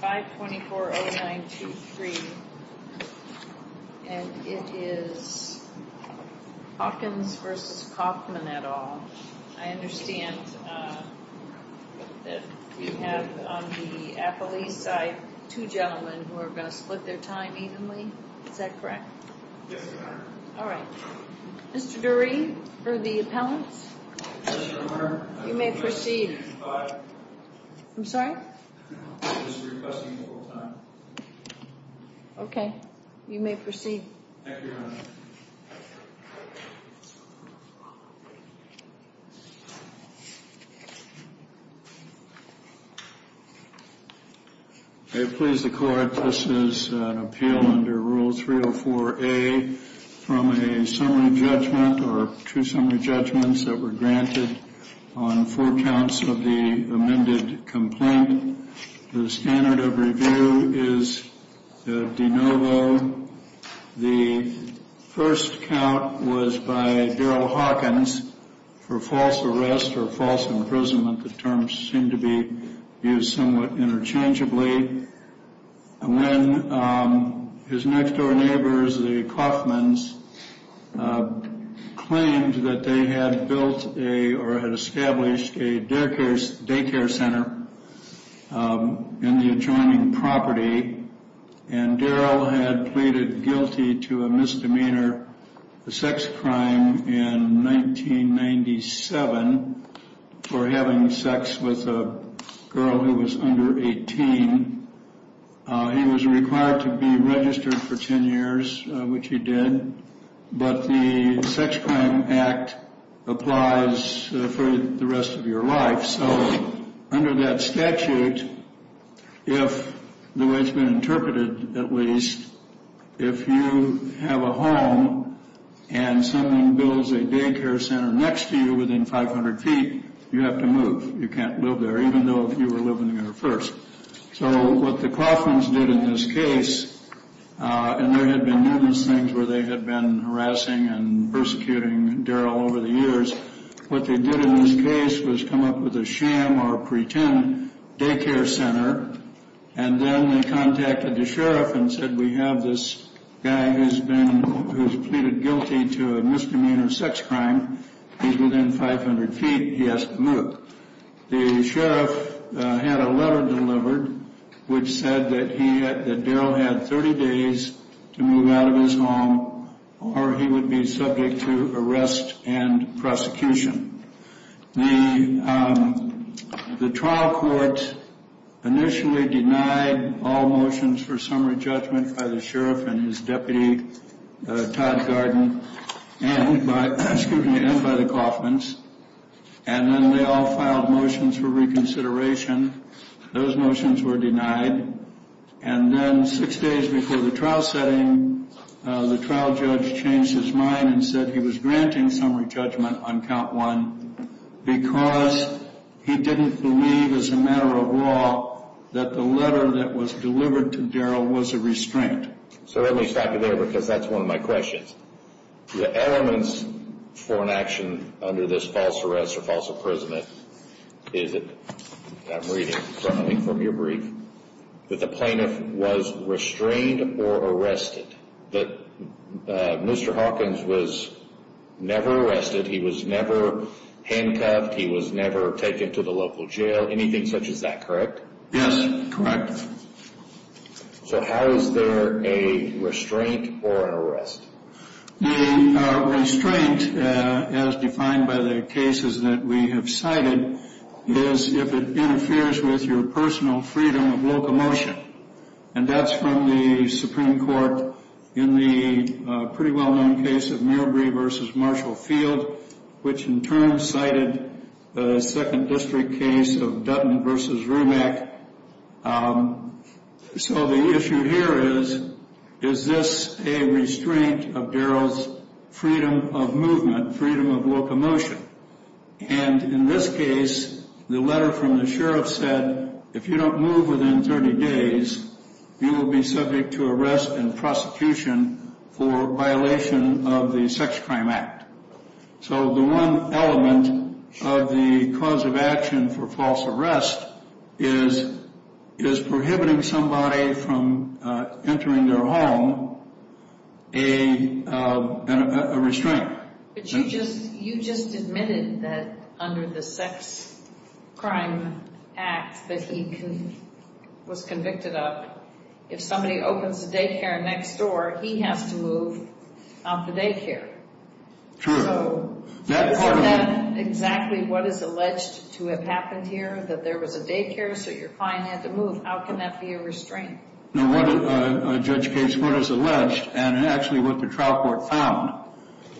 524-0923, and it is Hopkins v. Coffman et al. I understand that you have on the affilee side two gentlemen who are going to split their time evenly. Is that correct? Yes, ma'am. All right. Mr. Dury for the appellants. Yes, ma'am. You may proceed. I'm sorry? I just was requesting a little time. Okay. You may proceed. Thank you, Your Honor. I please the court. This is an appeal under Rule 304A from a summary judgment or two summary judgments that were granted on four counts of the amended complaint. The standard of review is de novo. The first count was by Darrell Hawkins for false arrest or false imprisonment. The terms seem to be used somewhat interchangeably. When his next door neighbors, the Coffmans, claimed that they had built or had established a daycare center in the adjoining property, and Darrell had pleaded guilty to a misdemeanor sex crime in 1997 for having sex with a girl who was under 18, he was required to be registered for 10 years, which he did. But the Sex Crime Act applies for the rest of your life. So under that statute, if the way it's been interpreted, at least, if you have a home and someone builds a daycare center next to you within 500 feet, you have to move. You can't live there, even though if you were living there first. So what the Coffmans did in this case, and there had been numerous things where they had been harassing and persecuting Darrell over the years, what they did in this case was come up with a sham or pretend daycare center, and then they contacted the sheriff and said, we have this guy who's pleaded guilty to a misdemeanor sex crime, he's within 500 feet, he has to move. The sheriff had a letter delivered, which said that Darrell had 30 days to move out of his home, or he would be subject to arrest and prosecution. The trial court initially denied all motions for summary judgment by the sheriff and his deputy, Todd Garden, and by the Coffmans. And then they all filed motions for reconsideration. Those motions were denied. And then six days before the trial setting, the trial judge changed his mind and said he was granting summary judgment on count one because he didn't believe as a matter of law that the letter that was delivered to Darrell was a restraint. So let me stop you there, because that's one of my questions. The elements for an action under this false arrest or false imprisonment is that, I'm reading something from your brief, that the plaintiff was restrained or arrested, that Mr. Hawkins was never arrested, he was never handcuffed, he was never taken to the local jail, anything such as that, correct? Yes, correct. So how is there a restraint or an arrest? The restraint, as defined by the cases that we have cited, is if it interferes with your personal freedom of locomotion. And that's from the Supreme Court in the pretty well-known case of Mirbree v. Marshall Field, which in turn cited the Second District case of Dutton v. Rimack. So the issue here is, is this a restraint of Darrell's freedom of movement, freedom of locomotion? And in this case, the letter from the sheriff said, if you don't move within 30 days, you will be subject to arrest and prosecution for violation of the Sex Crime Act. So the one element of the cause of action for false arrest is prohibiting somebody from entering their home, a restraint. But you just admitted that under the Sex Crime Act that he was convicted of, if somebody opens the daycare next door, he has to move out the daycare. True. So is that exactly what is alleged to have happened here, that there was a daycare, so your client had to move? How can that be a restraint? No, Judge Gates, what is alleged, and actually what the trial court found,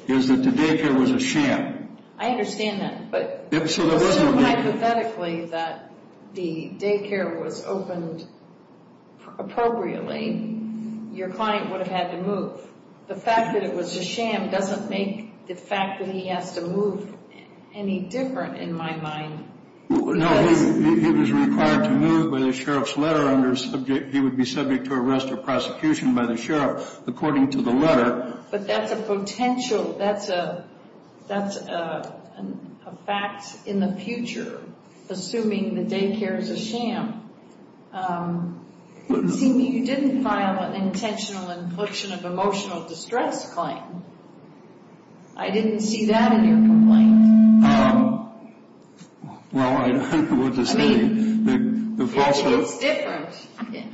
is that the daycare was a sham. I understand that, but so hypothetically that the daycare was opened appropriately, your client would have had to move. The fact that it was a sham doesn't make the fact that he has to move any different in my mind. No, he was required to move by the sheriff's letter, he would be subject to arrest or prosecution by the sheriff according to the letter. But that's a potential, that's a fact in the future, assuming the daycare is a sham. It seems that you didn't file an intentional infliction of emotional distress claim. I didn't see that in your complaint. Well, I don't know what to say. I mean, it's different.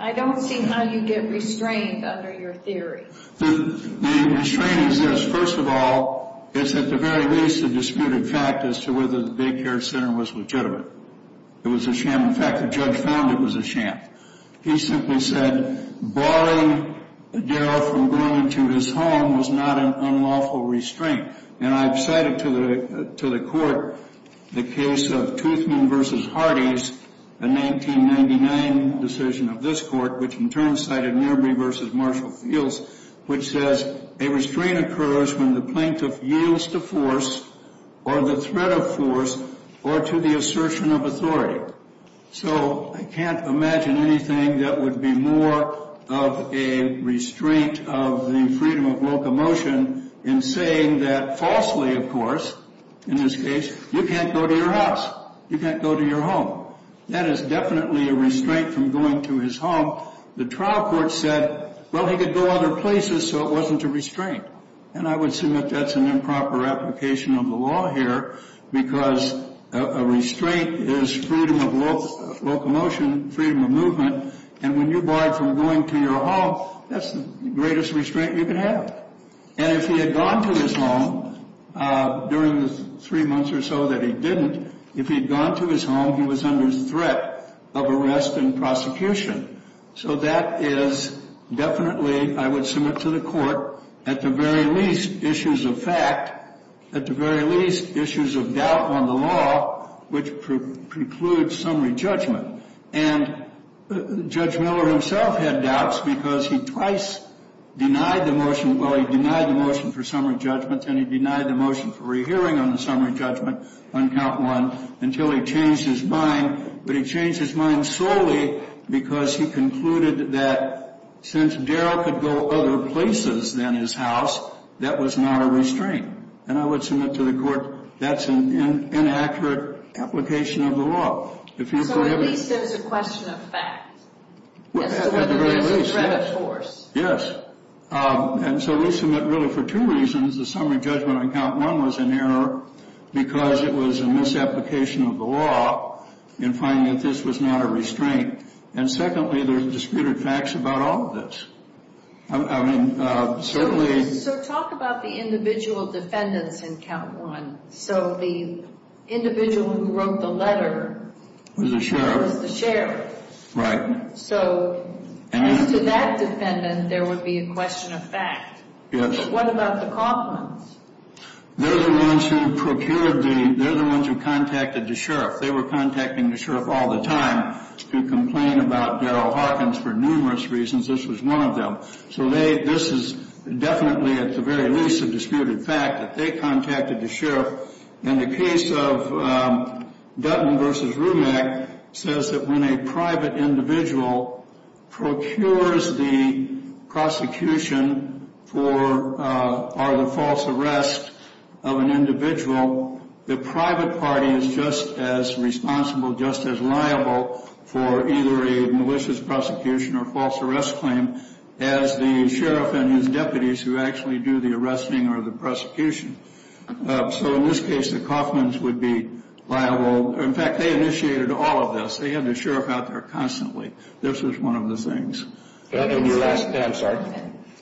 I don't see how you get restrained under your theory. The restraint is this. First of all, it's at the very least a disputed fact as to whether the daycare center was legitimate. It was a sham. In fact, the judge found it was a sham. He simply said, Barring Darrell from going to his home was not an unlawful restraint. And I've cited to the court the case of Toothman v. Hardee's, a 1999 decision of this court, which in turn cited Mirbree v. Marshall Fields, which says, a restraint occurs when the plaintiff yields to force or the threat of force or to the assertion of authority. So I can't imagine anything that would be more of a restraint of the freedom of locomotion in saying that falsely, of course, in this case, you can't go to your house, you can't go to your home. That is definitely a restraint from going to his home. The trial court said, well, he could go other places, so it wasn't a restraint. And I would assume that that's an improper application of the law here, because a restraint is freedom of locomotion, freedom of movement. And when you're barred from going to your home, that's the greatest restraint you can have. And if he had gone to his home during the three months or so that he didn't, if he had gone to his home, he was under threat of arrest and prosecution. So that is definitely, I would submit to the court, at the very least, issues of fact, at the very least, issues of doubt on the law, which precludes summary judgment. And Judge Miller himself had doubts because he twice denied the motion, well, he denied the motion for summary judgment, and he denied the motion for rehearing on the summary judgment on count one until he changed his mind. But he changed his mind solely because he concluded that since Darrell could go other places than his house, that was not a restraint. And I would submit to the court that's an inaccurate application of the law. So at least there's a question of fact. At the very least, yes. And so we submit, really, for two reasons. The summary judgment on count one was an error because it was a misapplication of the law in finding that this was not a restraint. And secondly, there's disputed facts about all of this. I mean, certainly. So talk about the individual defendants in count one. So the individual who wrote the letter was the sheriff. Right. So to that defendant, there would be a question of fact. What about the Kaufmans? They're the ones who procured the ñ they're the ones who contacted the sheriff. They were contacting the sheriff all the time to complain about Darrell Hawkins for numerous reasons. This was one of them. So this is definitely, at the very least, a disputed fact that they contacted the sheriff. And the case of Dutton v. Rumack says that when a private individual procures the prosecution for either false arrest of an individual, the private party is just as responsible, just as liable for either a malicious prosecution or false arrest claim as the sheriff and his deputies who actually do the arresting or the prosecution. So in this case, the Kaufmans would be liable. In fact, they initiated all of this. They had the sheriff out there constantly. This was one of the things. I'm sorry.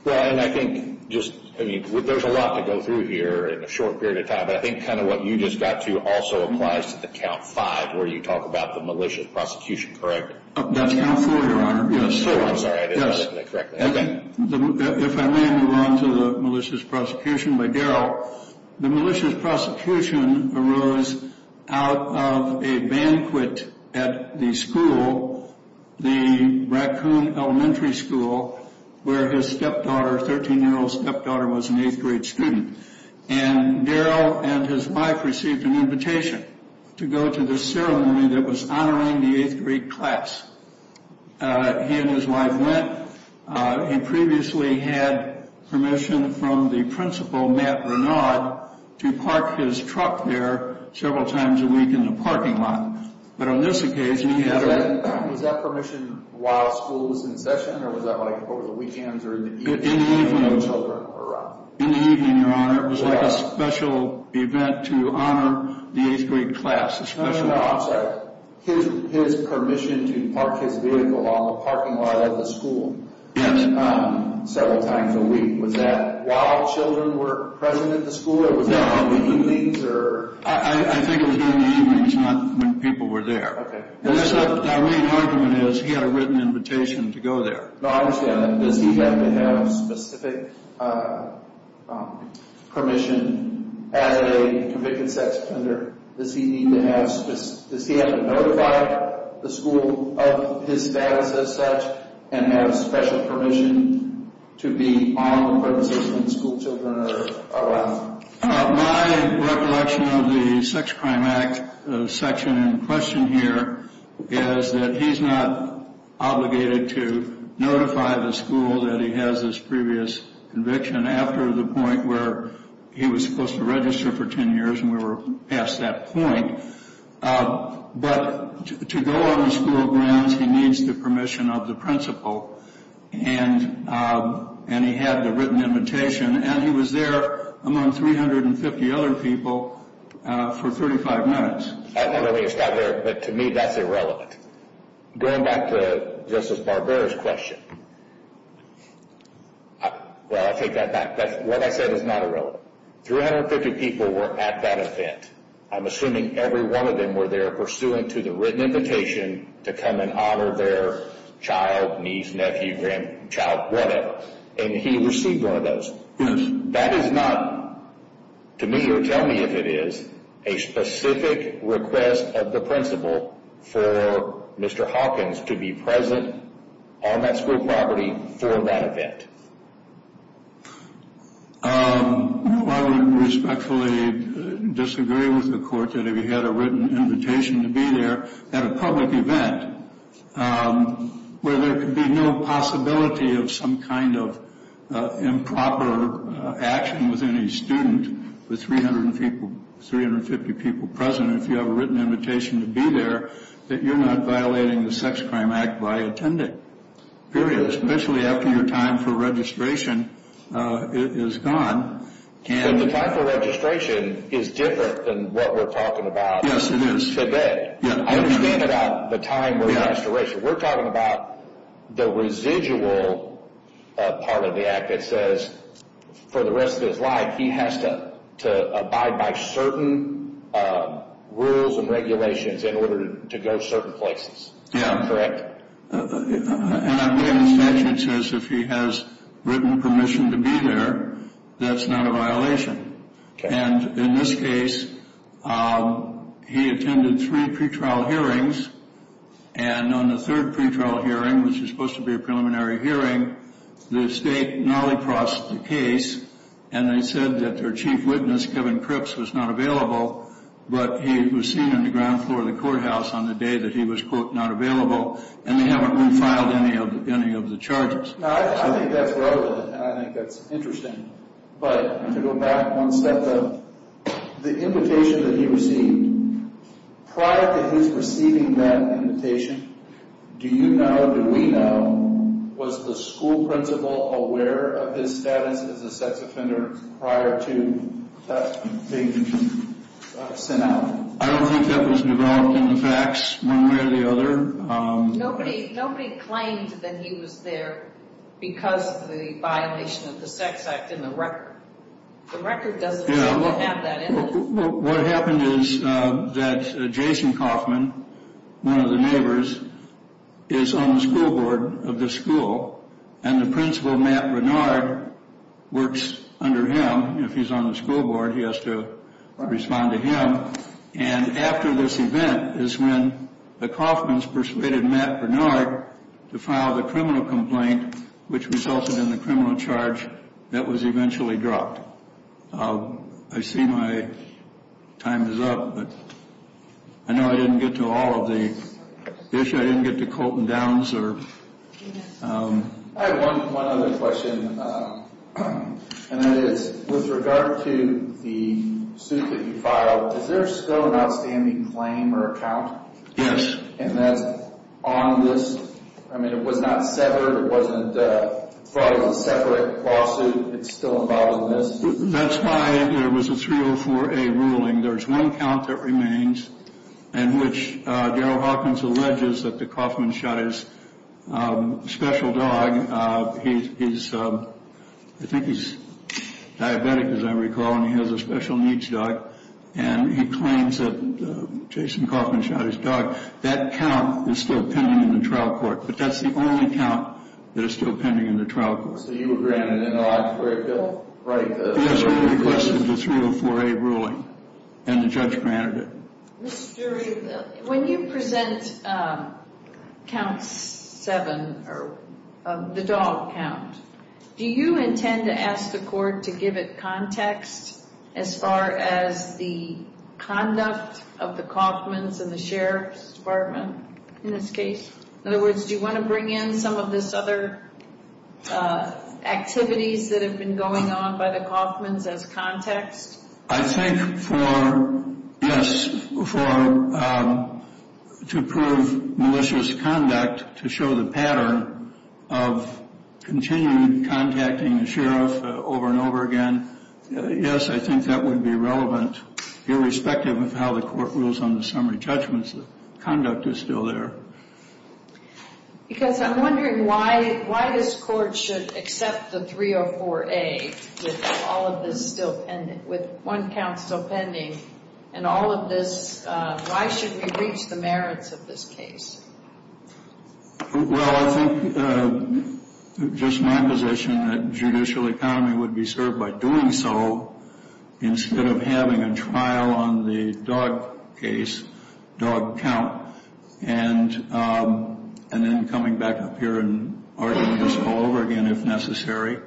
Well, and I think just ñ I mean, there's a lot to go through here in a short period of time. But I think kind of what you just got to also applies to the count five where you talk about the malicious prosecution, correct? That's count four, Your Honor. I'm sorry. I didn't get that correctly. Okay. If I may move on to the malicious prosecution by Darrell. The malicious prosecution arose out of a banquet at the school, the Raccoon Elementary School, where his stepdaughter, 13-year-old stepdaughter, was an eighth-grade student. And Darrell and his wife received an invitation to go to the ceremony that was honoring the eighth-grade class. He and his wife went. He previously had permission from the principal, Matt Renaud, to park his truck there several times a week in the parking lot. But on this occasion, he had ñ Was that permission while school was in session, or was that like over the weekends or in the evening when the children were out? In the evening, Your Honor. It was like a special event to honor the eighth-grade class, a special ñ I'm sorry. His permission to park his vehicle on the parking lot of the school several times a week. Was that while children were present at the school, or was that in the evenings? I think it was in the evenings, not when people were there. Okay. My main argument is he had a written invitation to go there. But obviously, does he have to have specific permission as a convicted sex offender? Does he need to have ñ does he have to notify the school of his status as such and have special permission to be on the premises when schoolchildren are around? My recollection of the Sex Crime Act section in question here is that he's not obligated to notify the school that he has this previous conviction after the point where he was supposed to register for 10 years, and we were past that point. But to go on the school grounds, he needs the permission of the principal. And he had the written invitation. And he was there among 350 other people for 35 minutes. I don't mean to stop there, but to me, that's irrelevant. Going back to Justice Barbera's question, well, I take that back. What I said is not irrelevant. 350 people were at that event. I'm assuming every one of them were there pursuant to the written invitation to come and honor their child, niece, nephew, grandchild, whatever. And he received one of those. That is not, to me or tell me if it is, a specific request of the principal for Mr. Hawkins to be present on that school property for that event. I would respectfully disagree with the court that if he had a written invitation to be there at a public event, where there could be no possibility of some kind of improper action within a student with 300 people, 350 people present, if you have a written invitation to be there, that you're not violating the Sex Crime Act by attending. Period. Especially after your time for registration is gone. The time for registration is different than what we're talking about today. I understand about the time for registration. We're talking about the residual part of the act that says for the rest of his life, he has to abide by certain rules and regulations in order to go certain places. Yeah. Correct? And again, the statute says if he has written permission to be there, that's not a violation. Okay. And in this case, he attended three pretrial hearings. And on the third pretrial hearing, which is supposed to be a preliminary hearing, the state nolly-crossed the case, and they said that their chief witness, Kevin Cripps, was not available, but he was seen on the ground floor of the courthouse on the day that he was, quote, not available. And they haven't refiled any of the charges. I think that's relevant, and I think that's interesting. But to go back one step, the invitation that he received, prior to his receiving that invitation, do you know, do we know, was the school principal aware of his status as a sex offender prior to that being sent out? I don't think that was developed in the facts one way or the other. Nobody claimed that he was there because of the violation of the Sex Act in the record. The record doesn't seem to have that in it. What happened is that Jason Kaufman, one of the neighbors, is on the school board of the school, and the principal, Matt Bernard, works under him. If he's on the school board, he has to respond to him. And after this event is when the Kaufmans persuaded Matt Bernard to file the criminal complaint, which resulted in the criminal charge that was eventually dropped. I see my time is up, but I know I didn't get to all of the issues. I didn't get to Colton Downs. I have one other question, and that is with regard to the suit that you filed, is there still an outstanding claim or account? Yes. And that's on this? I mean, it was not severed. It wasn't filed as a separate lawsuit. It's still involved in this? That's why there was a 304A ruling. There's one count that remains in which Darryl Hawkins alleges that the Kaufman shot his special dog. I think he's diabetic, as I recall, and he has a special needs dog. And he claims that Jason Kaufman shot his dog. That count is still pending in the trial court, but that's the only count that is still pending in the trial court. So you were granted an introductory bill? Yes, we requested the 304A ruling, and the judge granted it. Ms. Durie, when you present Count 7, the dog count, do you intend to ask the court to give it context as far as the conduct of the Kaufmans and the Sheriff's Department in this case? In other words, do you want to bring in some of this other activities that have been going on by the Kaufmans as context? I think for, yes, to prove malicious conduct, to show the pattern of continuing contacting the sheriff over and over again, yes, I think that would be relevant, irrespective of how the court rules on the summary judgments. The conduct is still there. Because I'm wondering why this court should accept the 304A with all of this still pending, with one count still pending, and all of this, why should we breach the merits of this case? Well, I think just my position that judicial economy would be served by doing so instead of having a trial on the dog case, dog count, and then coming back up here and arguing this all over again if necessary.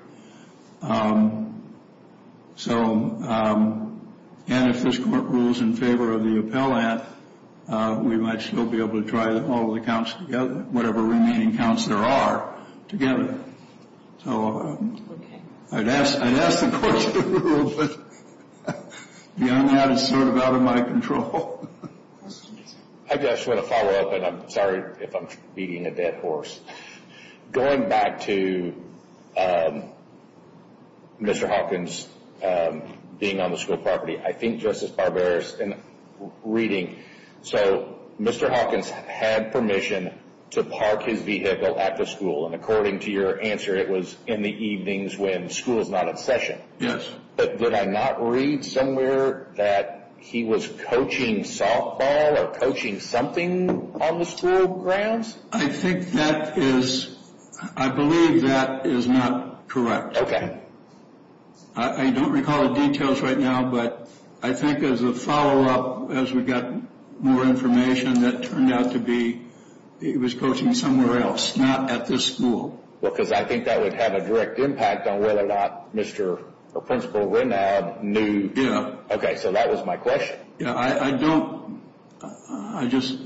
So, and if this court rules in favor of the appellant, we might still be able to try all the counts together, whatever remaining counts there are, together. So I'd ask the court to rule, but beyond that, it's sort of out of my control. I just want to follow up, and I'm sorry if I'm beating a dead horse. Going back to Mr. Hawkins being on the school property, I think Justice Barbera's reading, so Mr. Hawkins had permission to park his vehicle at the school, and according to your answer, it was in the evenings when school is not in session. Yes. But did I not read somewhere that he was coaching softball or coaching something on the school grounds? I think that is, I believe that is not correct. Okay. I don't recall the details right now, but I think as a follow-up, as we got more information, that turned out to be he was coaching somewhere else, not at this school. Well, because I think that would have a direct impact on whether or not Mr. or Principal Winnab knew. Yeah. Okay, so that was my question. Yeah, I don't, I just,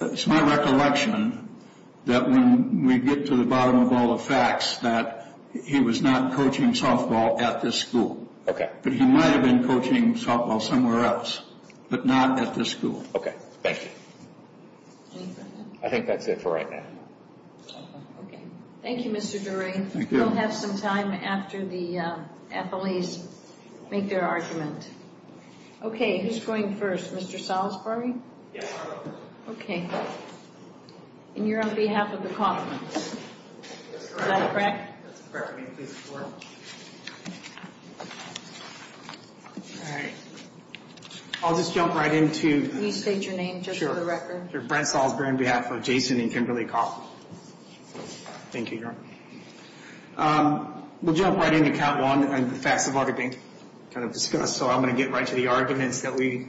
it's my recollection that when we get to the bottom of all the facts, that he was not coaching softball at this school. Okay. But he might have been coaching softball somewhere else, but not at this school. Okay. Thank you. I think that's it for right now. Okay. Thank you, Mr. Doreen. Thank you. We'll have some time after the athletes make their argument. Okay, who's going first? Mr. Salisbury? Yeah, I'll go first. Okay. And you're on behalf of the conference. Is that correct? That's correct. All right. I'll just jump right into You state your name, just for the record. Sure. Brent Salisbury on behalf of Jason and Kimberly Kopp. Thank you. We'll jump right into count one, and the facts have already been kind of discussed, so I'm going to get right to the arguments that we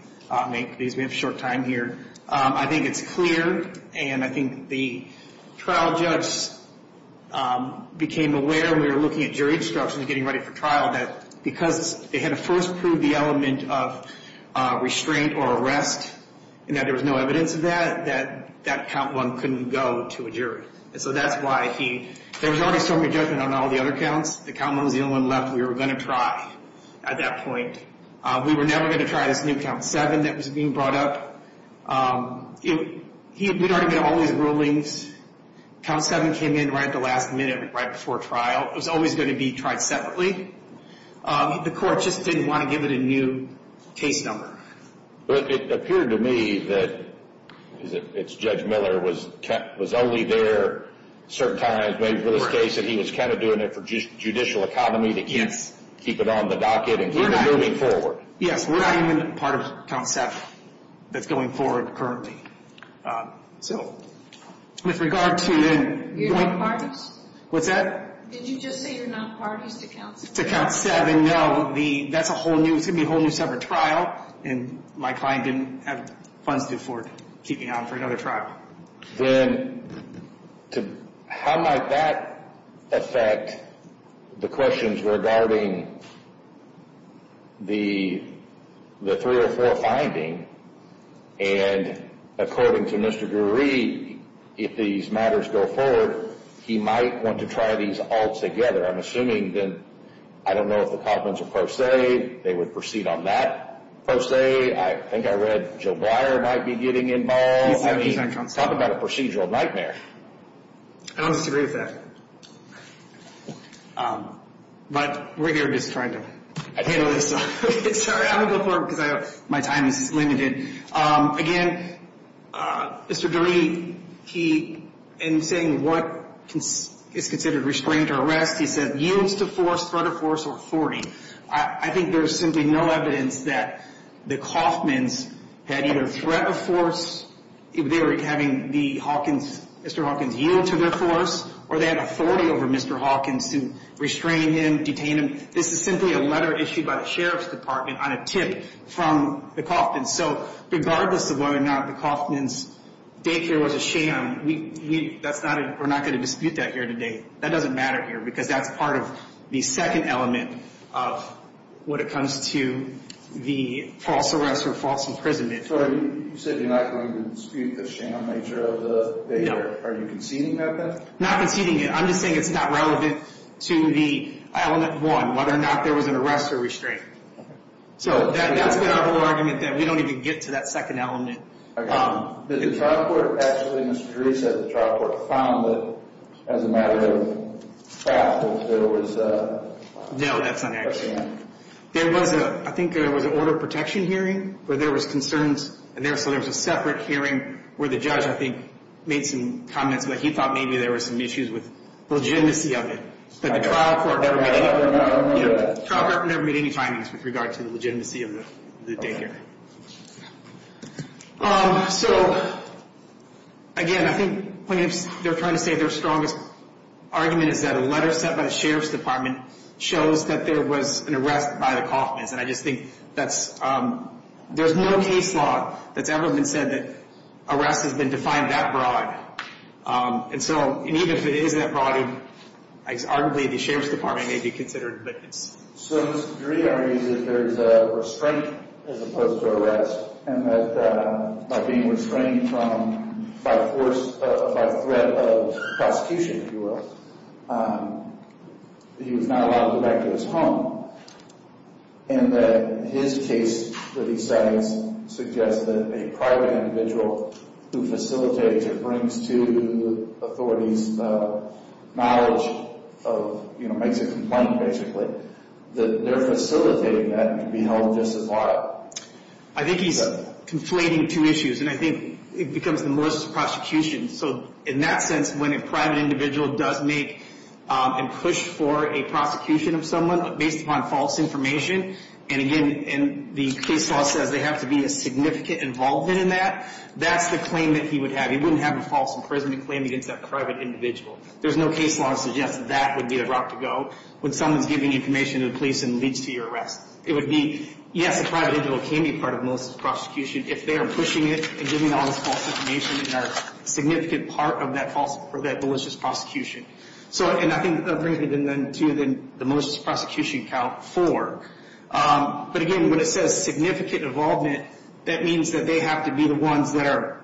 make, because we have short time here. I think it's clear, and I think the trial judge became aware when we were looking at jury instructions, getting ready for trial, that because they had to first prove the element of restraint or arrest, and that there was no evidence of that, that that count one couldn't go to a jury. And so that's why he – there was already a stormy judgment on all the other counts. The count one was the only one left we were going to try at that point. We were never going to try this new count seven that was being brought up. We'd already made all these rulings. Count seven came in right at the last minute, right before trial. It was always going to be tried separately. The court just didn't want to give it a new case number. But it appeared to me that it's Judge Miller was only there certain times, maybe for this case, that he was kind of doing it for judicial economy to keep it on the docket and keep it moving forward. Yes, we're not even part of count seven that's going forward currently. So with regard to – You're not parties? What's that? Did you just say you're not parties to count seven? To count seven, no. That's a whole new – it's going to be a whole new separate trial, and my client didn't have funds to keep me on for another trial. Then how might that affect the questions regarding the 304 finding? And according to Mr. Drury, if these matters go forward, he might want to try these all together. I'm assuming that – I don't know if the Coffman's a pro se. They would proceed on that pro se. I think I read Joe Breyer might be getting involved. Talk about a procedural nightmare. I don't disagree with that. But we're here just trying to handle this. Sorry, I'm going to go forward because my time is limited. Again, Mr. Drury, he – in saying what is considered restrained arrest, he said used to force, threat of force, or authority. I think there is simply no evidence that the Coffman's had either threat of force, they were having the Hawkins – Mr. Hawkins yield to their force, or they had authority over Mr. Hawkins to restrain him, detain him. This is simply a letter issued by the Sheriff's Department on a tip from the Coffman's. So regardless of whether or not the Coffman's daycare was a sham, we – that's not – we're not going to dispute that here today. That doesn't matter here because that's part of the second element of what it comes to the false arrest or false imprisonment. So you said you're not going to dispute the sham nature of the daycare. No. Are you conceding that then? Not conceding it. I'm just saying it's not relevant to the element one, whether or not there was an arrest or restraint. So that's been our whole argument that we don't even get to that second element. The trial court actually – Mr. Dries said the trial court found that as a matter of fact, that there was – No, that's an accident. There was a – I think there was an order of protection hearing where there was concerns, and there – so there was a separate hearing where the judge, I think, made some comments where he thought maybe there was some issues with the legitimacy of it. But the trial court never made any – I don't remember that. The trial court never made any findings with regard to the legitimacy of the daycare. So, again, I think what they're trying to say, their strongest argument, is that a letter sent by the Sheriff's Department shows that there was an arrest by the Kauffmans. And I just think that's – there's no case law that's ever been said that arrest has been defined that broad. And so – and even if it is that broad, arguably the Sheriff's Department may be considered, but it's – So, Mr. Dries argues that there's a restraint as opposed to arrest, and that by being restrained from – by force – by threat of prosecution, if you will, that he was not allowed to go back to his home, and that his case that he cites suggests that a private individual who facilitates or brings to the authorities knowledge of – you know, makes a complaint, basically, that they're facilitating that and can be held just as liable. I think he's conflating two issues, and I think it becomes the most prosecution. So in that sense, when a private individual does make and push for a prosecution of someone based upon false information, and, again, the case law says they have to be a significant involvement in that, that's the claim that he would have. He wouldn't have a false imprisonment claim against that private individual. There's no case law that suggests that would be the route to go when someone's giving information to the police and leads to your arrest. It would be, yes, a private individual can be part of malicious prosecution if they are pushing it and giving all this false information and are a significant part of that malicious prosecution. So – and I think that brings me to the most prosecution count, four. But, again, when it says significant involvement, that means that they have to be the ones that are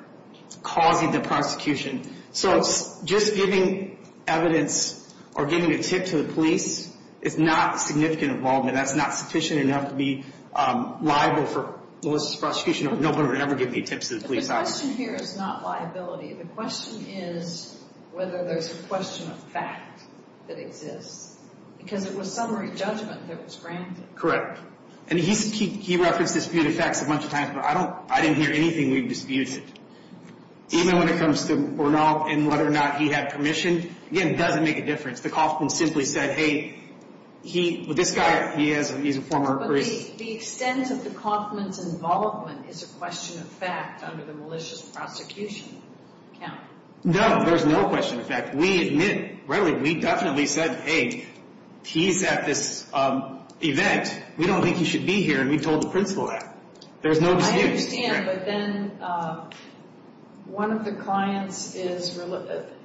causing the prosecution. So just giving evidence or giving a tip to the police is not significant involvement. That's not sufficient enough to be liable for malicious prosecution if no one would ever give any tips to the police. But the question here is not liability. The question is whether there's a question of fact that exists, because it was summary judgment that was granted. Correct. And he referenced disputed facts a bunch of times, but I don't – I didn't hear anything we've disputed. Even when it comes to Bernal and whether or not he had permission, again, it doesn't make a difference. The Kauffman simply said, hey, he – this guy, he has – he's a former – But the extent of the Kauffman's involvement is a question of fact under the malicious prosecution count. No, there's no question of fact. We admit – really, we definitely said, hey, he's at this event. We don't think he should be here, and we told the principal that. There's no dispute. I understand, but then one of the clients is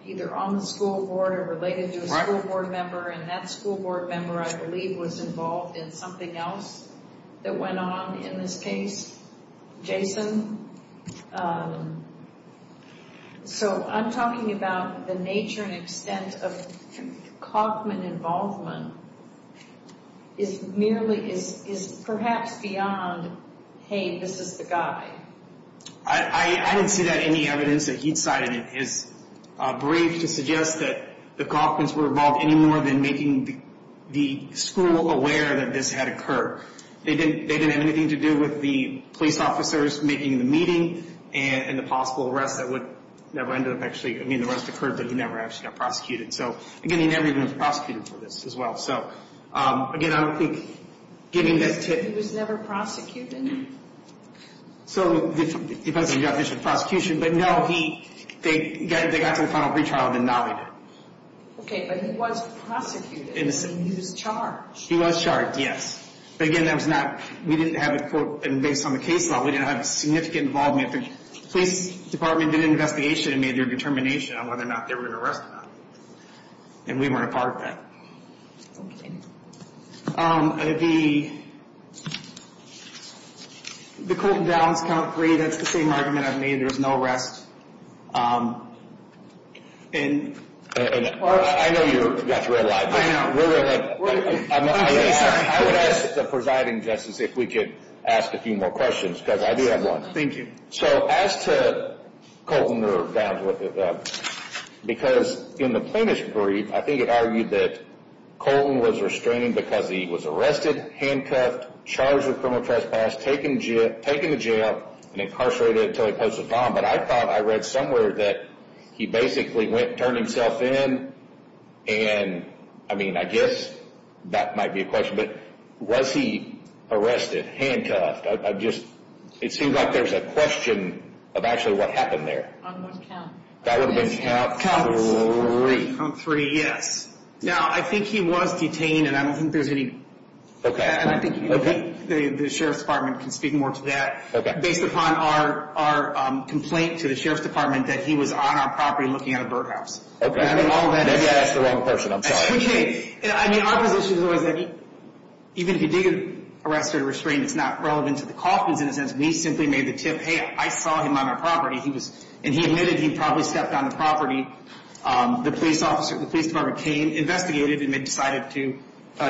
either on the school board or related to a school board member, and that school board member, I believe, was involved in something else that went on in this case, Jason. So I'm talking about the nature and extent of Kauffman involvement is merely – is perhaps beyond, hey, this is the guy. I didn't see that in the evidence that he cited. It is brief to suggest that the Kauffmans were involved any more than making the school aware that this had occurred. They didn't have anything to do with the police officers making the meeting and the possible arrest that would never end up actually – I mean, the arrest occurred, but he never actually got prosecuted. So, again, he never even was prosecuted for this as well. So, again, I don't think giving that tip – He was never prosecuted? So, it depends on the definition of prosecution. But, no, he – they got to the final pretrial, and then now they did. Okay, but he was prosecuted. He was charged. He was charged, yes. But, again, that was not – we didn't have a – and based on the case law, we didn't have significant involvement. The police department did an investigation and made their determination on whether or not they were going to arrest him. And we weren't a part of that. Okay. The Colton Downs count three. That's the same argument I've made. There was no arrest. And – I know you got through a lot. I know. I would ask the presiding justice if we could ask a few more questions because I do have one. Thank you. So, as to Colton or Downs, because in the plaintiff's brief, I think it argued that Colton was restrained because he was arrested, handcuffed, charged with criminal trespass, taken to jail, and incarcerated until he posted a form. But I thought I read somewhere that he basically went and turned himself in and, I mean, I guess that might be a question, but was he arrested, handcuffed? I just – it seems like there's a question of actually what happened there. On what count? That would have been count three. Count three, yes. Now, I think he was detained and I don't think there's any – And I think the sheriff's department can speak more to that. Okay. Based upon our complaint to the sheriff's department that he was on our property looking at a birdhouse. Okay. Maybe I asked the wrong person. I'm sorry. I mean, our position was that even if he did get arrested or restrained, it's not relevant to the Caulfields in a sense. We simply made the tip, hey, I saw him on our property, and he admitted he probably stepped on the property. The police officer at the police department came, investigated, and then decided to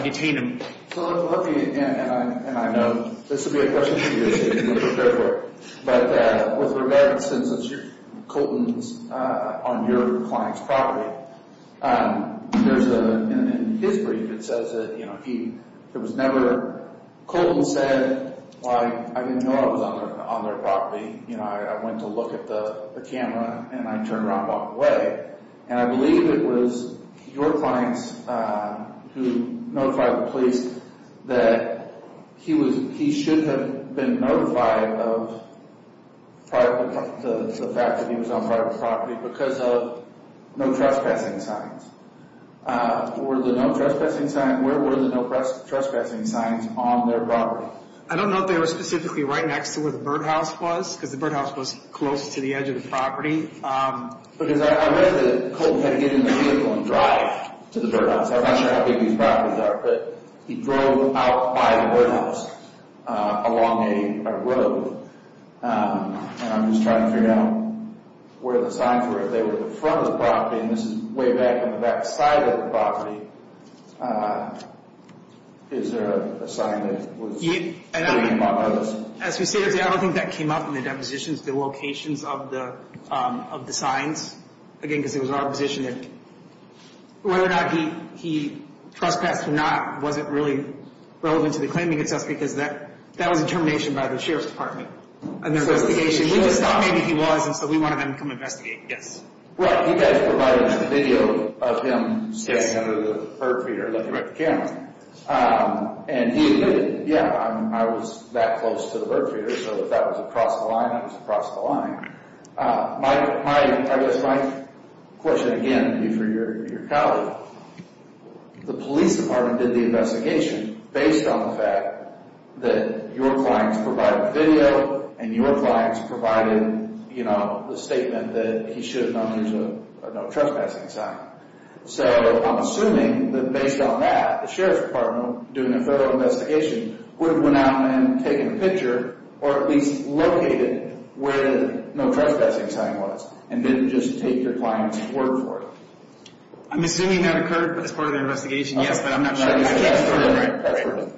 detain him. So, I'm lucky, and I know this will be a question for you, but with regard to the sentence, Colton's on your client's property. There's a – in his brief, it says that, you know, he – there was never – Colton said, well, I didn't know I was on their property. You know, I went to look at the camera, and I turned around and walked away. And I believe it was your clients who notified the police that he was – he should have been notified of the fact that he was on private property because of no trespassing signs. Were the no trespassing signs – where were the no trespassing signs on their property? I don't know if they were specifically right next to where the birdhouse was because the birdhouse was close to the edge of the property. Because I read that Colton had to get in the vehicle and drive to the birdhouse. I'm not sure how big these properties are, but he drove out by the birdhouse along a road. And I'm just trying to figure out where the signs were. If they were at the front of the property, and this is way back on the back side of the property, is there a sign that was – As we say, I don't think that came up in the depositions, the locations of the signs. Again, because it was our position that whether or not he trespassed or not wasn't really relevant to the claiming itself because that was a determination by the Sheriff's Department. And their investigation – we just thought maybe he was, and so we wanted them to come investigate. Well, you guys provided a video of him standing under the bird feeder looking at the camera. And he admitted, yeah, I was that close to the bird feeder, so if that was across the line, I was across the line. I guess my question again would be for your colleague. The police department did the investigation based on the fact that your clients provided video and your clients provided the statement that he should have known there was a trespassing sign. So I'm assuming that based on that, the Sheriff's Department doing a federal investigation would have went out and taken a picture or at least located where the no trespassing sign was and didn't just take your client's word for it. I'm assuming that occurred as part of the investigation, yes, but I'm not sure.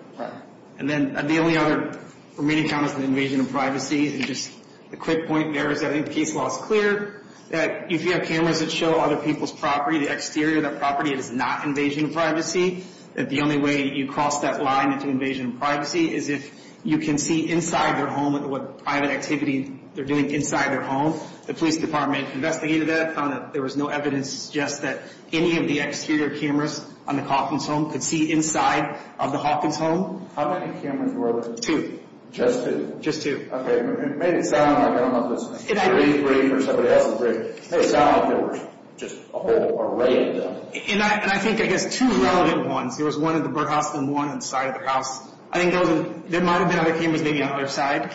And then the only other remaining comment is the invasion of privacy. And just a quick point there is I think the case law is clear that if you have cameras that show other people's property, the exterior of that property, it is not invasion of privacy. That the only way you cross that line into invasion of privacy is if you can see inside their home what private activity they're doing inside their home. The police department investigated that, found that there was no evidence just that any of the exterior cameras on the Hawkins home could see inside of the Hawkins home. How many cameras were there? Two. Just two? Just two. Okay, it made it sound like, I don't know if it was three, three, or somebody else was three. It made it sound like there was just a whole array of them. And I think, I guess, two relevant ones. There was one in the birdhouse and one inside of the house. I think there might have been other cameras maybe on the other side.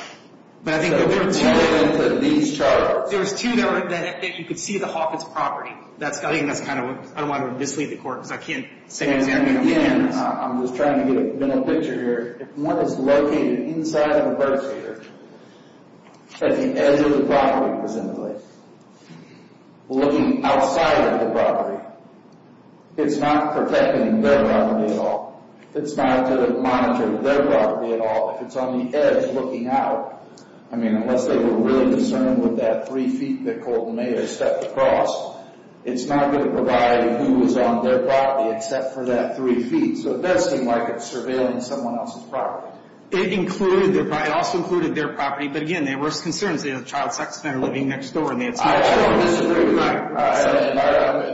But I think there were two. So there were cameras that these charges. There was two that you could see the Hawkins property. I think that's kind of what, I don't want to mislead the court because I can't say exactly how many cameras. And again, I'm just trying to get a better picture here. If one is located inside of a bird feeder at the edge of the property, presumably, looking outside of the property, it's not protecting their property at all. It's not going to monitor their property at all. If it's on the edge looking out, I mean, unless they were really concerned with that three feet that Colton made or stepped across, it's not going to provide who was on their property except for that three feet. So it does seem like it's surveilling someone else's property. It included their property. It also included their property. But, again, there were concerns. They had a child sex offender living next door. I don't disagree with you.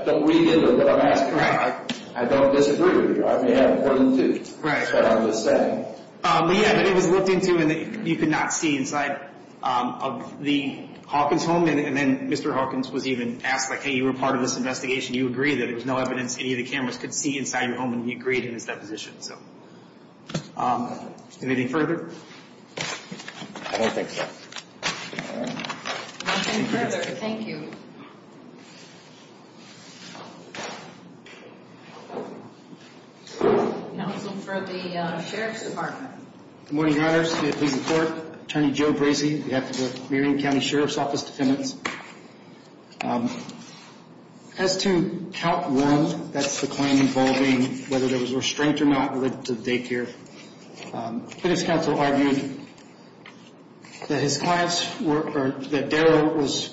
Don't read into what I'm asking. I don't disagree with you. I may have more than two. Right. That's what I'm just saying. But, yeah, it was looked into and you could not see inside of the Hawkins home. And then Mr. Hawkins was even asked, like, hey, you were part of this investigation. You agree that there was no evidence any of the cameras could see inside your home and you agreed in his deposition. So anything further? I don't think so. All right. Nothing further. Thank you. Now let's look for the Sheriff's Department. Good morning, Your Honors. Please report. Attorney Joe Bracey. We have the Marion County Sheriff's Office defendants. As to count one, that's the claim involving whether there was restraint or not related to the daycare. The defense counsel argued that his clients were, that Darryl was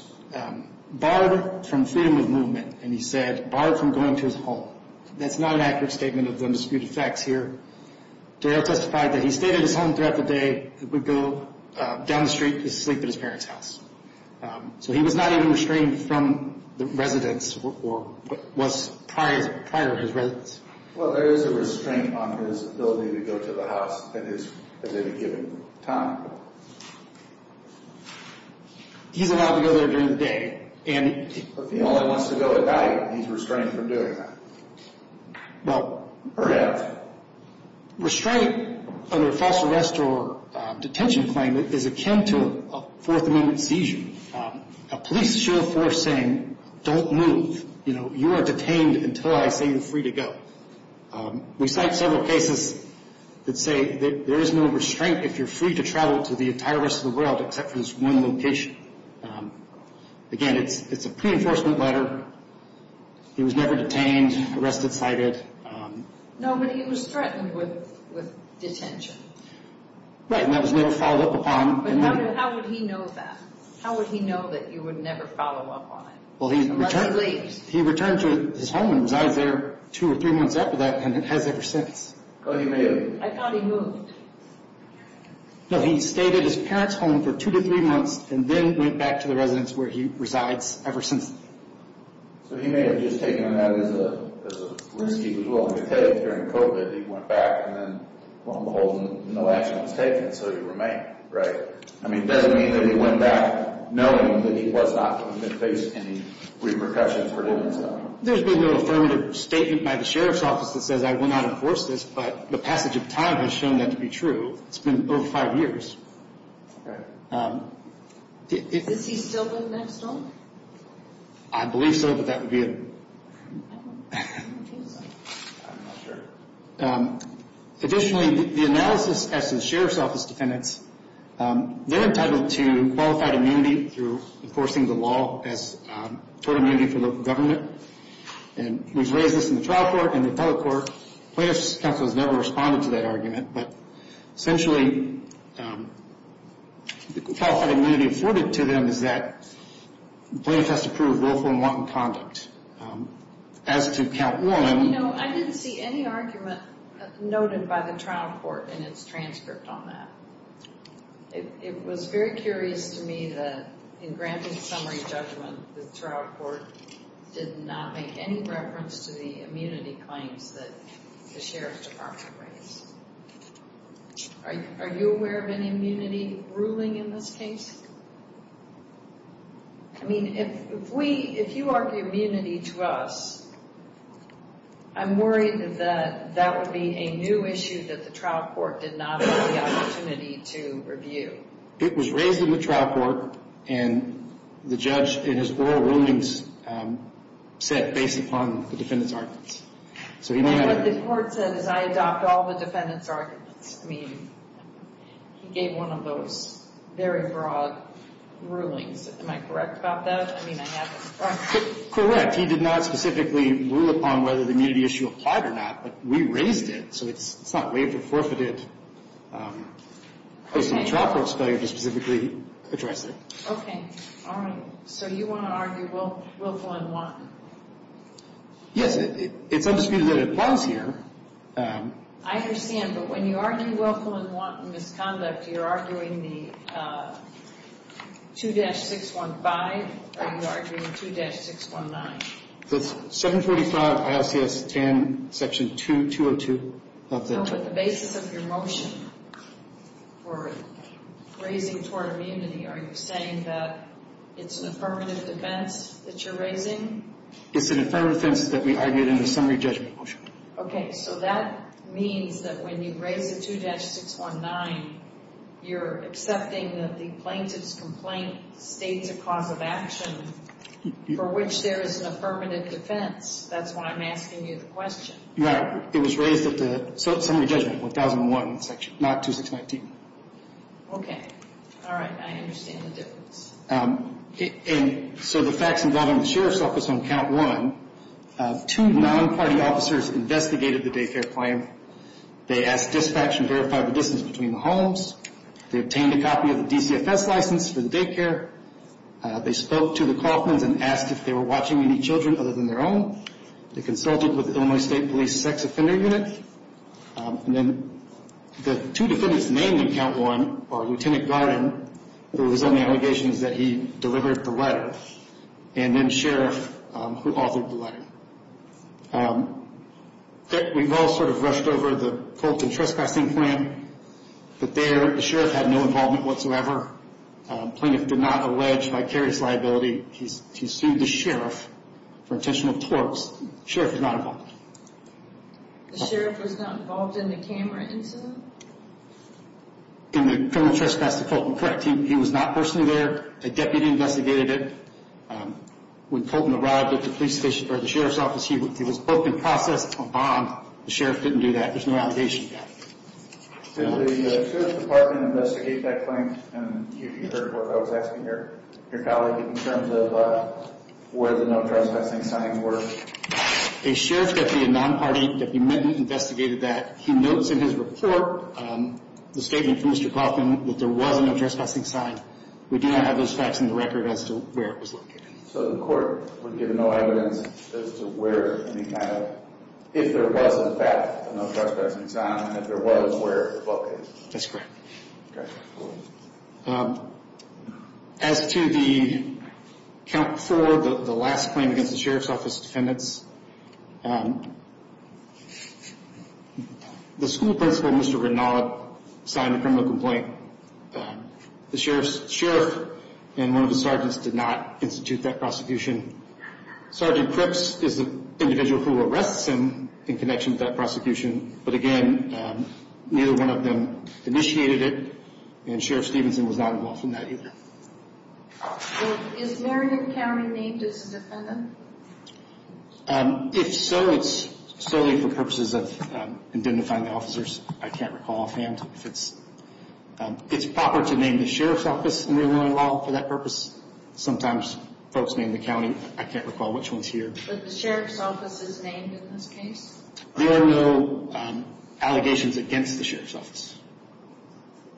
barred from freedom of movement. And he said, barred from going to his home. That's not an accurate statement of the disputed facts here. Darryl testified that he stayed at his home throughout the day. He would go down the street to sleep at his parents' house. So he was not even restrained from the residence or was prior to his residence. Well, there is a restraint on his ability to go to the house at any given time. He's allowed to go there during the day. If he only wants to go at night, he's restrained from doing that. Or have. Restraint under a false arrest or detention claim is akin to a Fourth Amendment seizure. A police show of force saying, don't move. You are detained until I say you're free to go. We cite several cases that say there is no restraint if you're free to travel to the entire rest of the world except for this one location. Again, it's a pre-enforcement letter. He was never detained, arrested, cited. No, but he was threatened with detention. Right, and that was never followed up upon. But how would he know that? How would he know that you would never follow up on it? Well, he returned to his home and resides there two or three months after that and has ever since. Oh, he may have. I thought he moved. No, he stayed at his parents' home for two to three months and then went back to the residence where he resides ever since. So he may have just taken that as a risk he was willing to take during COVID. It doesn't mean that he went back and then, lo and behold, no action was taken, so he remained, right? I mean, it doesn't mean that he went back knowing that he was not going to face any repercussions for doing so. There's been no affirmative statement by the sheriff's office that says I will not enforce this, but the passage of time has shown that to be true. It's been over five years. Okay. Is he still being next on? I believe so, but that would be a... I'm not sure. Additionally, the analysis as to the sheriff's office defendants, they're entitled to qualified immunity through enforcing the law as tort immunity for local government. And we've raised this in the trial court and the federal court. Plaintiff's counsel has never responded to that argument, but essentially the qualified immunity afforded to them is that the plaintiff has to prove willful and wanton conduct. As to count one... You know, I didn't see any argument noted by the trial court in its transcript on that. It was very curious to me that in granted summary judgment, the trial court did not make any reference to the immunity claims that the sheriff's department raised. Are you aware of any immunity ruling in this case? I mean, if you argue immunity to us, I'm worried that that would be a new issue that the trial court did not have the opportunity to review. It was raised in the trial court, and the judge in his oral rulings said based upon the defendant's arguments. What the court said is I adopt all the defendant's arguments. I mean, he gave one of those very broad rulings. Am I correct about that? I mean, I have... Correct. He did not specifically rule upon whether the immunity issue applied or not, but we raised it, so it's not waived or forfeited based on the trial court's failure to specifically address it. Okay. All right. So you want to argue willful and wanton? Yes. It's undisputed that it applies here. I understand, but when you argue willful and wanton misconduct, you're arguing the 2-615, or are you arguing 2-619? It's 745 ICS 10, section 202 of the... No, but the basis of your motion for raising it toward immunity, are you saying that it's an affirmative defense that you're raising? It's an affirmative defense that we argued in the summary judgment motion. Okay. So that means that when you raise the 2-619, you're accepting that the plaintiff's complaint states a cause of action for which there is an affirmative defense. That's why I'm asking you the question. Yeah. It was raised at the summary judgment, 1001, not 2-619. Okay. All right. I understand the difference. And so the facts involving the sheriff's office on count one, two non-party officers investigated the daycare claim. They asked dispatch to verify the distance between the homes. They obtained a copy of the DCFS license for the daycare. They spoke to the Kauffmans and asked if they were watching any children other than their own. They consulted with the Illinois State Police sex offender unit. And then the two defendants named on count one are Lieutenant Garden, who was on the allegations that he delivered the letter, and then Sheriff, who authored the letter. We've all sort of rushed over the Colton trespassing plan, but there the sheriff had no involvement whatsoever. The plaintiff did not allege vicarious liability. He sued the sheriff for intentional torts. The sheriff did not involve him. The sheriff was not involved in the camera incident? In the criminal trespass to Colton, correct. He was not personally there. A deputy investigated it. When Colton arrived at the police station for the sheriff's office, he was both in process of a bomb. The sheriff didn't do that. There's no allegation of that. Did the Sheriff's Department investigate that claim? And have you heard what I was asking your colleague in terms of where the no trespassing signs were? A sheriff deputy, a non-party deputy, investigated that. He notes in his report the statement from Mr. Colton that there was no trespassing sign. We do not have those facts in the record as to where it was located. So the court would give no evidence as to where any kind of, if there was in fact no trespassing sign, and if there was, where it was located? That's correct. Okay. As to the count for the last claim against the sheriff's office defendants, the school principal, Mr. Renaud, signed a criminal complaint. The sheriff and one of the sergeants did not institute that prosecution. Sergeant Cripps is the individual who arrests him in connection with that prosecution, but again, neither one of them initiated it. And Sheriff Stevenson was not involved in that either. Is Marion County named as a defendant? If so, it's solely for purposes of identifying the officers. I can't recall offhand if it's proper to name the sheriff's office, and we wouldn't allow it for that purpose. Sometimes folks name the county. I can't recall which one's here. But the sheriff's office is named in this case? There are no allegations against the sheriff's office.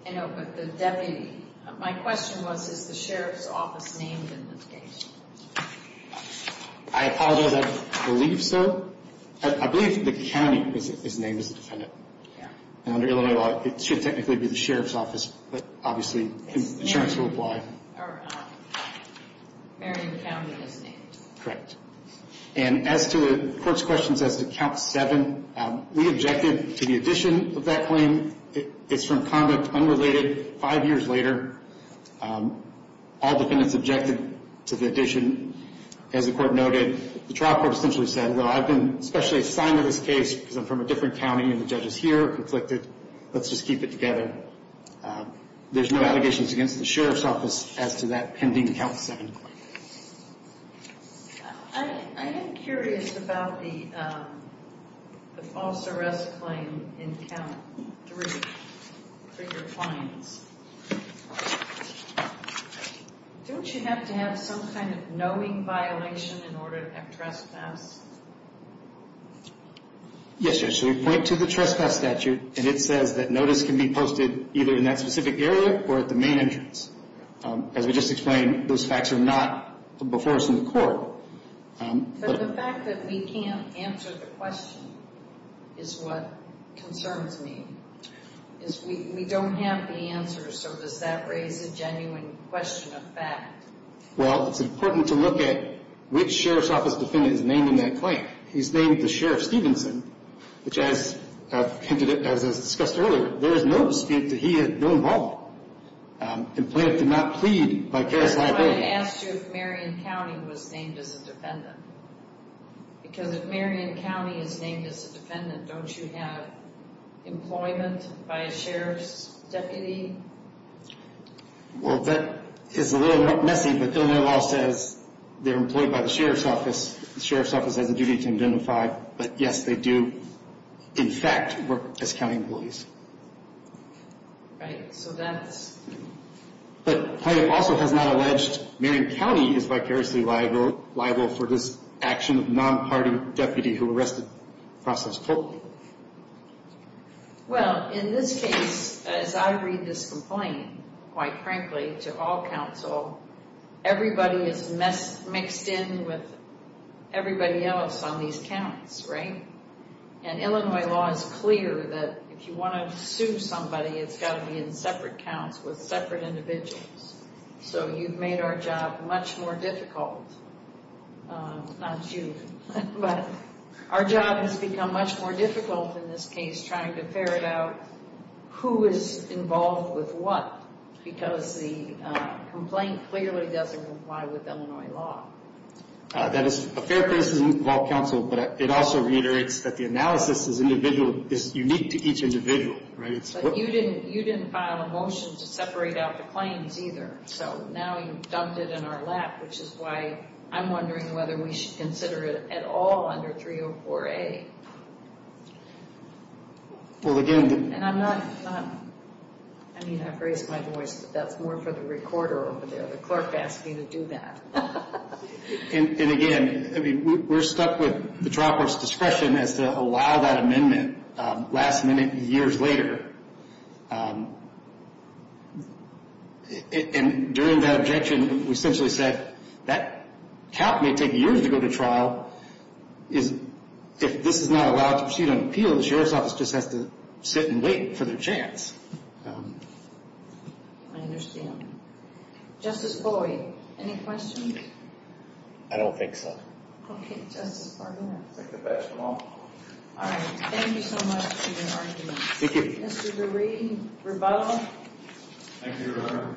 I know, but the deputy. My question was, is the sheriff's office named in this case? I apologize. I believe so. I believe the county is named as a defendant. And under Illinois law, it should technically be the sheriff's office, but obviously insurance will apply. Marion County is named. Correct. And as to the court's questions as to Count 7, we objected to the addition of that claim. It's from conduct unrelated. Five years later, all defendants objected to the addition. As the court noted, the trial court essentially said, well, I've been specially assigned to this case because I'm from a different county and the judge is here, conflicted. Let's just keep it together. There's no allegations against the sheriff's office as to that pending Count 7 claim. I am curious about the false arrest claim in Count 3 for your clients. Don't you have to have some kind of knowing violation in order to have trespass? Yes, Judge. We point to the trespass statute, and it says that notice can be posted either in that specific area or at the main entrance. As we just explained, those facts are not before us in the court. But the fact that we can't answer the question is what concerns me. We don't have the answers, so does that raise a genuine question of fact? Well, it's important to look at which sheriff's office defendant is naming that claim. He's named the Sheriff Stevenson, which as I've hinted at, as I discussed earlier, there is no dispute that he had no involvement. The plaintiff did not plead by case liability. That's why I asked you if Marion County was named as a defendant. Because if Marion County is named as a defendant, don't you have employment by a sheriff's deputy? Well, that is a little messy, but Illinois law says they're employed by the sheriff's office. The sheriff's office has a duty to identify. But, yes, they do, in fact, work as county employees. Right, so that's... But the plaintiff also has not alleged Marion County is vicariously liable for this action of a non-party deputy who arrested the process co-op. Well, in this case, as I read this complaint, quite frankly, to all counsel, everybody is mixed in with everybody else on these counts, right? And Illinois law is clear that if you want to sue somebody, it's got to be in separate counts with separate individuals. So you've made our job much more difficult. Not you, but our job has become much more difficult in this case trying to ferret out who is involved with what. Because the complaint clearly doesn't comply with Illinois law. That is a fair criticism of all counsel, but it also reiterates that the analysis is unique to each individual. But you didn't file a motion to separate out the claims either, so now you've dumped it in our lap, which is why I'm wondering whether we should consider it at all under 304A. Well, again... And I'm not, I mean, I've raised my voice, but that's more for the recorder over there. The clerk asked me to do that. And again, we're stuck with the trial court's discretion as to allow that amendment last minute, years later. And during that objection, we essentially said, that count may take years to go to trial. If this is not allowed to proceed on appeal, the sheriff's office just has to sit and wait for their chance. I understand. Justice Boyd, any questions? I don't think so. Okay, Justice Barber. I think that's all. All right, thank you so much for your argument. Thank you. Mr. Lurie, rebuttal? Thank you, Your Honor.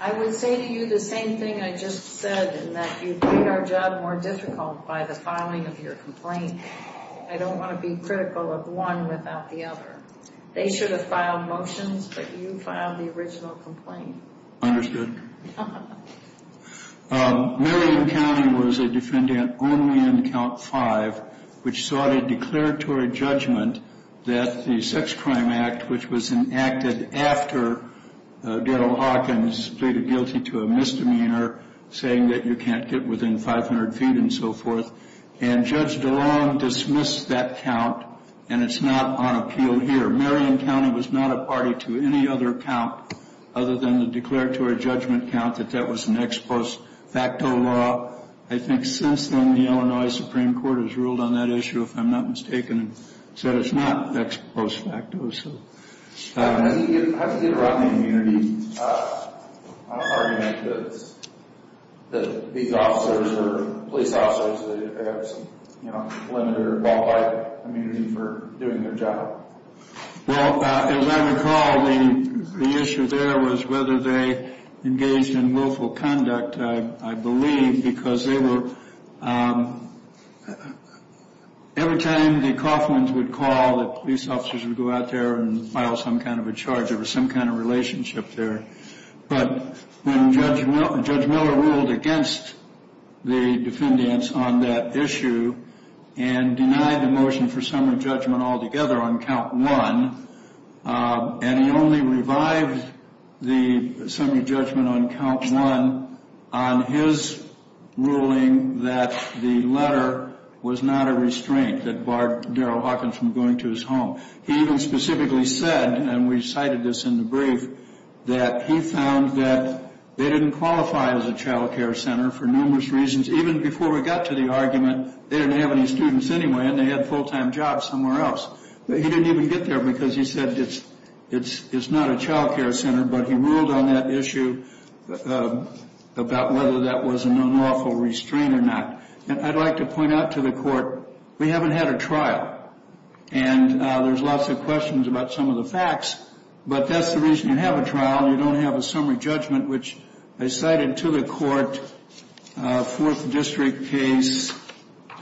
I would say to you the same thing I just said, in that you'd make our job more difficult by the filing of your complaint. I don't want to be critical of one without the other. They should have filed motions, but you filed the original complaint. Marion County was a defendant only in Count 5, which sought a declaratory judgment that the sex crime act which was enacted after Darrell Hawkins pleaded guilty to a misdemeanor, saying that you can't get within 500 feet and so forth, and Judge DeLong dismissed that count, and it's not on appeal here. Marion County was not a party to any other count other than the declaratory judgment count, that that was an ex post facto law. I think since then, the Illinois Supreme Court has ruled on that issue, if I'm not mistaken, and said it's not ex post facto. How do you get around the immunity? I don't argue that these officers or police officers, they have some limited or ballpark immunity for doing their job. Well, as I recall, the issue there was whether they engaged in willful conduct, I believe, because every time the Coffmans would call, the police officers would go out there and file some kind of a charge. There was some kind of relationship there. But when Judge Miller ruled against the defendants on that issue and denied the motion for summary judgment altogether on Count 1, and he only revived the summary judgment on Count 1 on his ruling that the letter was not a restraint that barred Darryl Hawkins from going to his home. He even specifically said, and we cited this in the brief, that he found that they didn't qualify as a child care center for numerous reasons. Even before we got to the argument, they didn't have any students anyway, and they had full-time jobs somewhere else. But he didn't even get there because he said it's not a child care center, but he ruled on that issue about whether that was an unlawful restraint or not. And I'd like to point out to the Court, we haven't had a trial, and there's lots of questions about some of the facts, but that's the reason you have a trial. You don't have a summary judgment, which I cited to the Court, Fourth District case,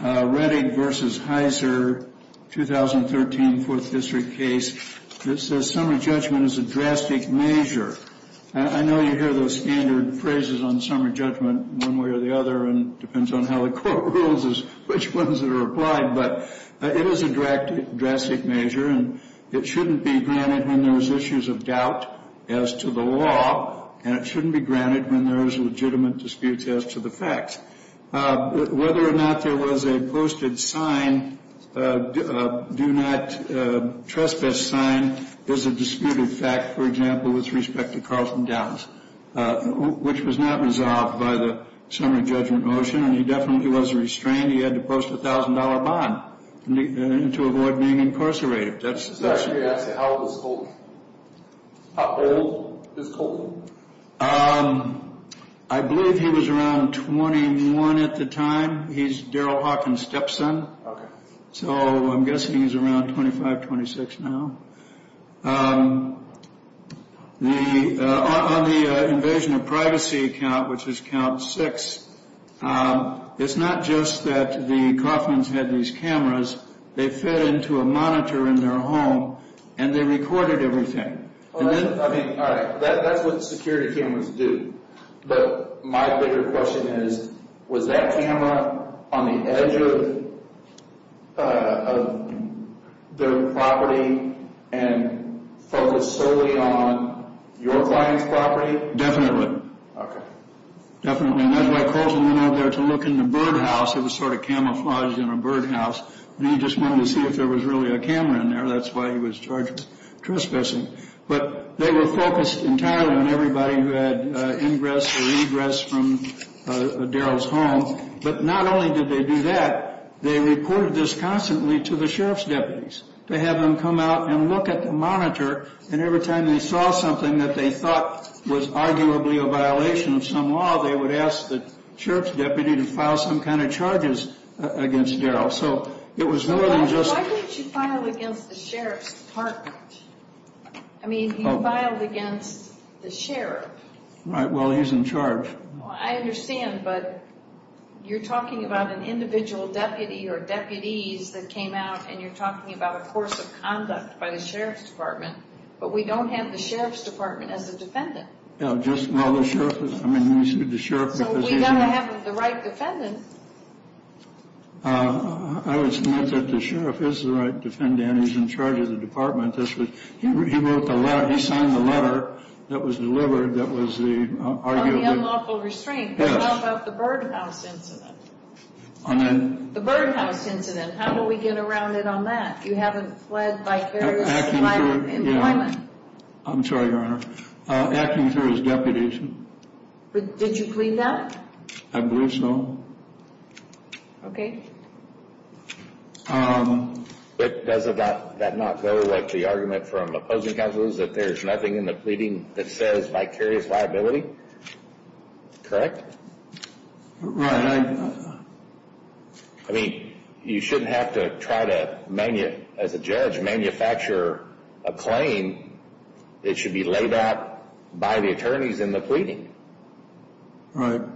Redding v. Heiser, 2013 Fourth District case. It says summary judgment is a drastic measure. I know you hear those standard phrases on summary judgment one way or the other, and it depends on how the Court rules as to which ones are applied, but it is a drastic measure, and it shouldn't be granted when there's issues of doubt as to the law, and it shouldn't be granted when there's legitimate disputes as to the facts. Whether or not there was a posted sign, do not trespass sign, is a disputed fact, for example, with respect to Carlson Downs, which was not resolved by the summary judgment motion, and he definitely was restrained. He had to post a $1,000 bond to avoid being incarcerated. How old is Colton? I believe he was around 21 at the time. He's Daryl Hawkins' stepson, so I'm guessing he's around 25, 26 now. On the invasion of privacy account, which is count six, it's not just that the Coffmans had these cameras. They fed into a monitor in their home, and they recorded everything. All right, that's what security cameras do, but my bigger question is, was that camera on the edge of their property and focused solely on your client's property? Definitely. Okay. Definitely, and that's why Colton went out there to look in the birdhouse. It was sort of camouflaged in a birdhouse, and he just wanted to see if there was really a camera in there. That's why he was charged with trespassing. But they were focused entirely on everybody who had ingress or egress from Daryl's home, but not only did they do that, they reported this constantly to the sheriff's deputies to have them come out and look at the monitor, and every time they saw something that they thought was arguably a violation of some law, they would ask the sheriff's deputy to file some kind of charges against Daryl. So it was more than just... Why didn't you file against the sheriff's department? I mean, you filed against the sheriff. Right, well, he's in charge. I understand, but you're talking about an individual deputy or deputies that came out, and you're talking about a course of conduct by the sheriff's department, but we don't have the sheriff's department as a defendant. So we've got to have the right defendant. I would submit that the sheriff is the right defendant. He's in charge of the department. He signed the letter that was delivered that was the argument... On the unlawful restraint. Yes. How about the birdhouse incident? The birdhouse incident, how do we get around it on that? You haven't fled vicarious employment. I'm sorry, Your Honor. Acting sheriff's deputies. Did you plead that? I believe so. Okay. But does that not go with the argument from opposing counsels that there's nothing in the pleading that says vicarious liability? Correct? Right. I mean, you shouldn't have to try to, as a judge, manufacture a claim that should be laid out by the attorneys in the pleading. How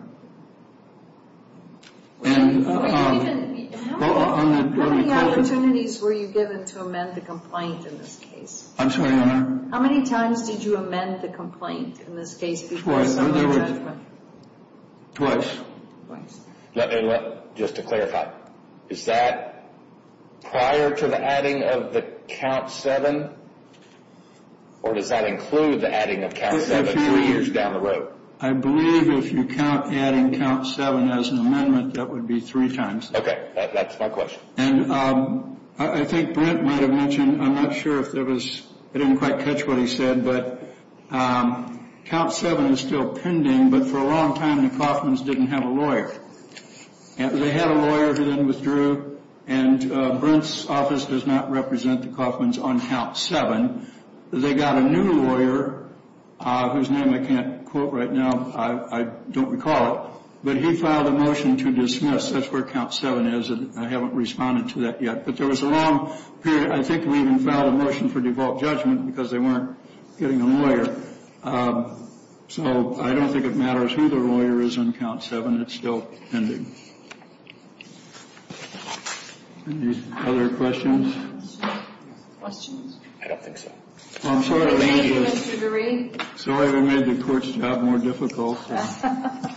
many opportunities were you given to amend the complaint in this case? I'm sorry, Your Honor. How many times did you amend the complaint in this case before some of the judgment? Twice. Just to clarify, is that prior to the adding of the count seven? Or does that include the adding of count seven three years down the road? I believe if you count adding count seven as an amendment, that would be three times. Okay. That's my question. And I think Brent might have mentioned, I'm not sure if there was, I didn't quite catch what he said, but count seven is still pending, but for a long time the Coffmans didn't have a lawyer. They had a lawyer who then withdrew, and Brent's office does not represent the Coffmans on count seven. They got a new lawyer whose name I can't quote right now. I don't recall it. But he filed a motion to dismiss. That's where count seven is, and I haven't responded to that yet. But there was a long period. I think we even filed a motion for default judgment because they weren't getting a lawyer. So I don't think it matters who the lawyer is on count seven. It's still pending. Any other questions? Questions? I don't think so. Thank you, Mr. DeRee. Sorry we made the court's job more difficult. I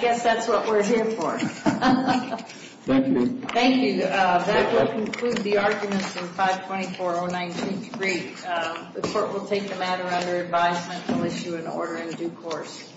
guess that's what we're here for. Thank you. Thank you. That will conclude the arguments in 524.019.3. The court will take the matter under advisement and will issue an order in due course.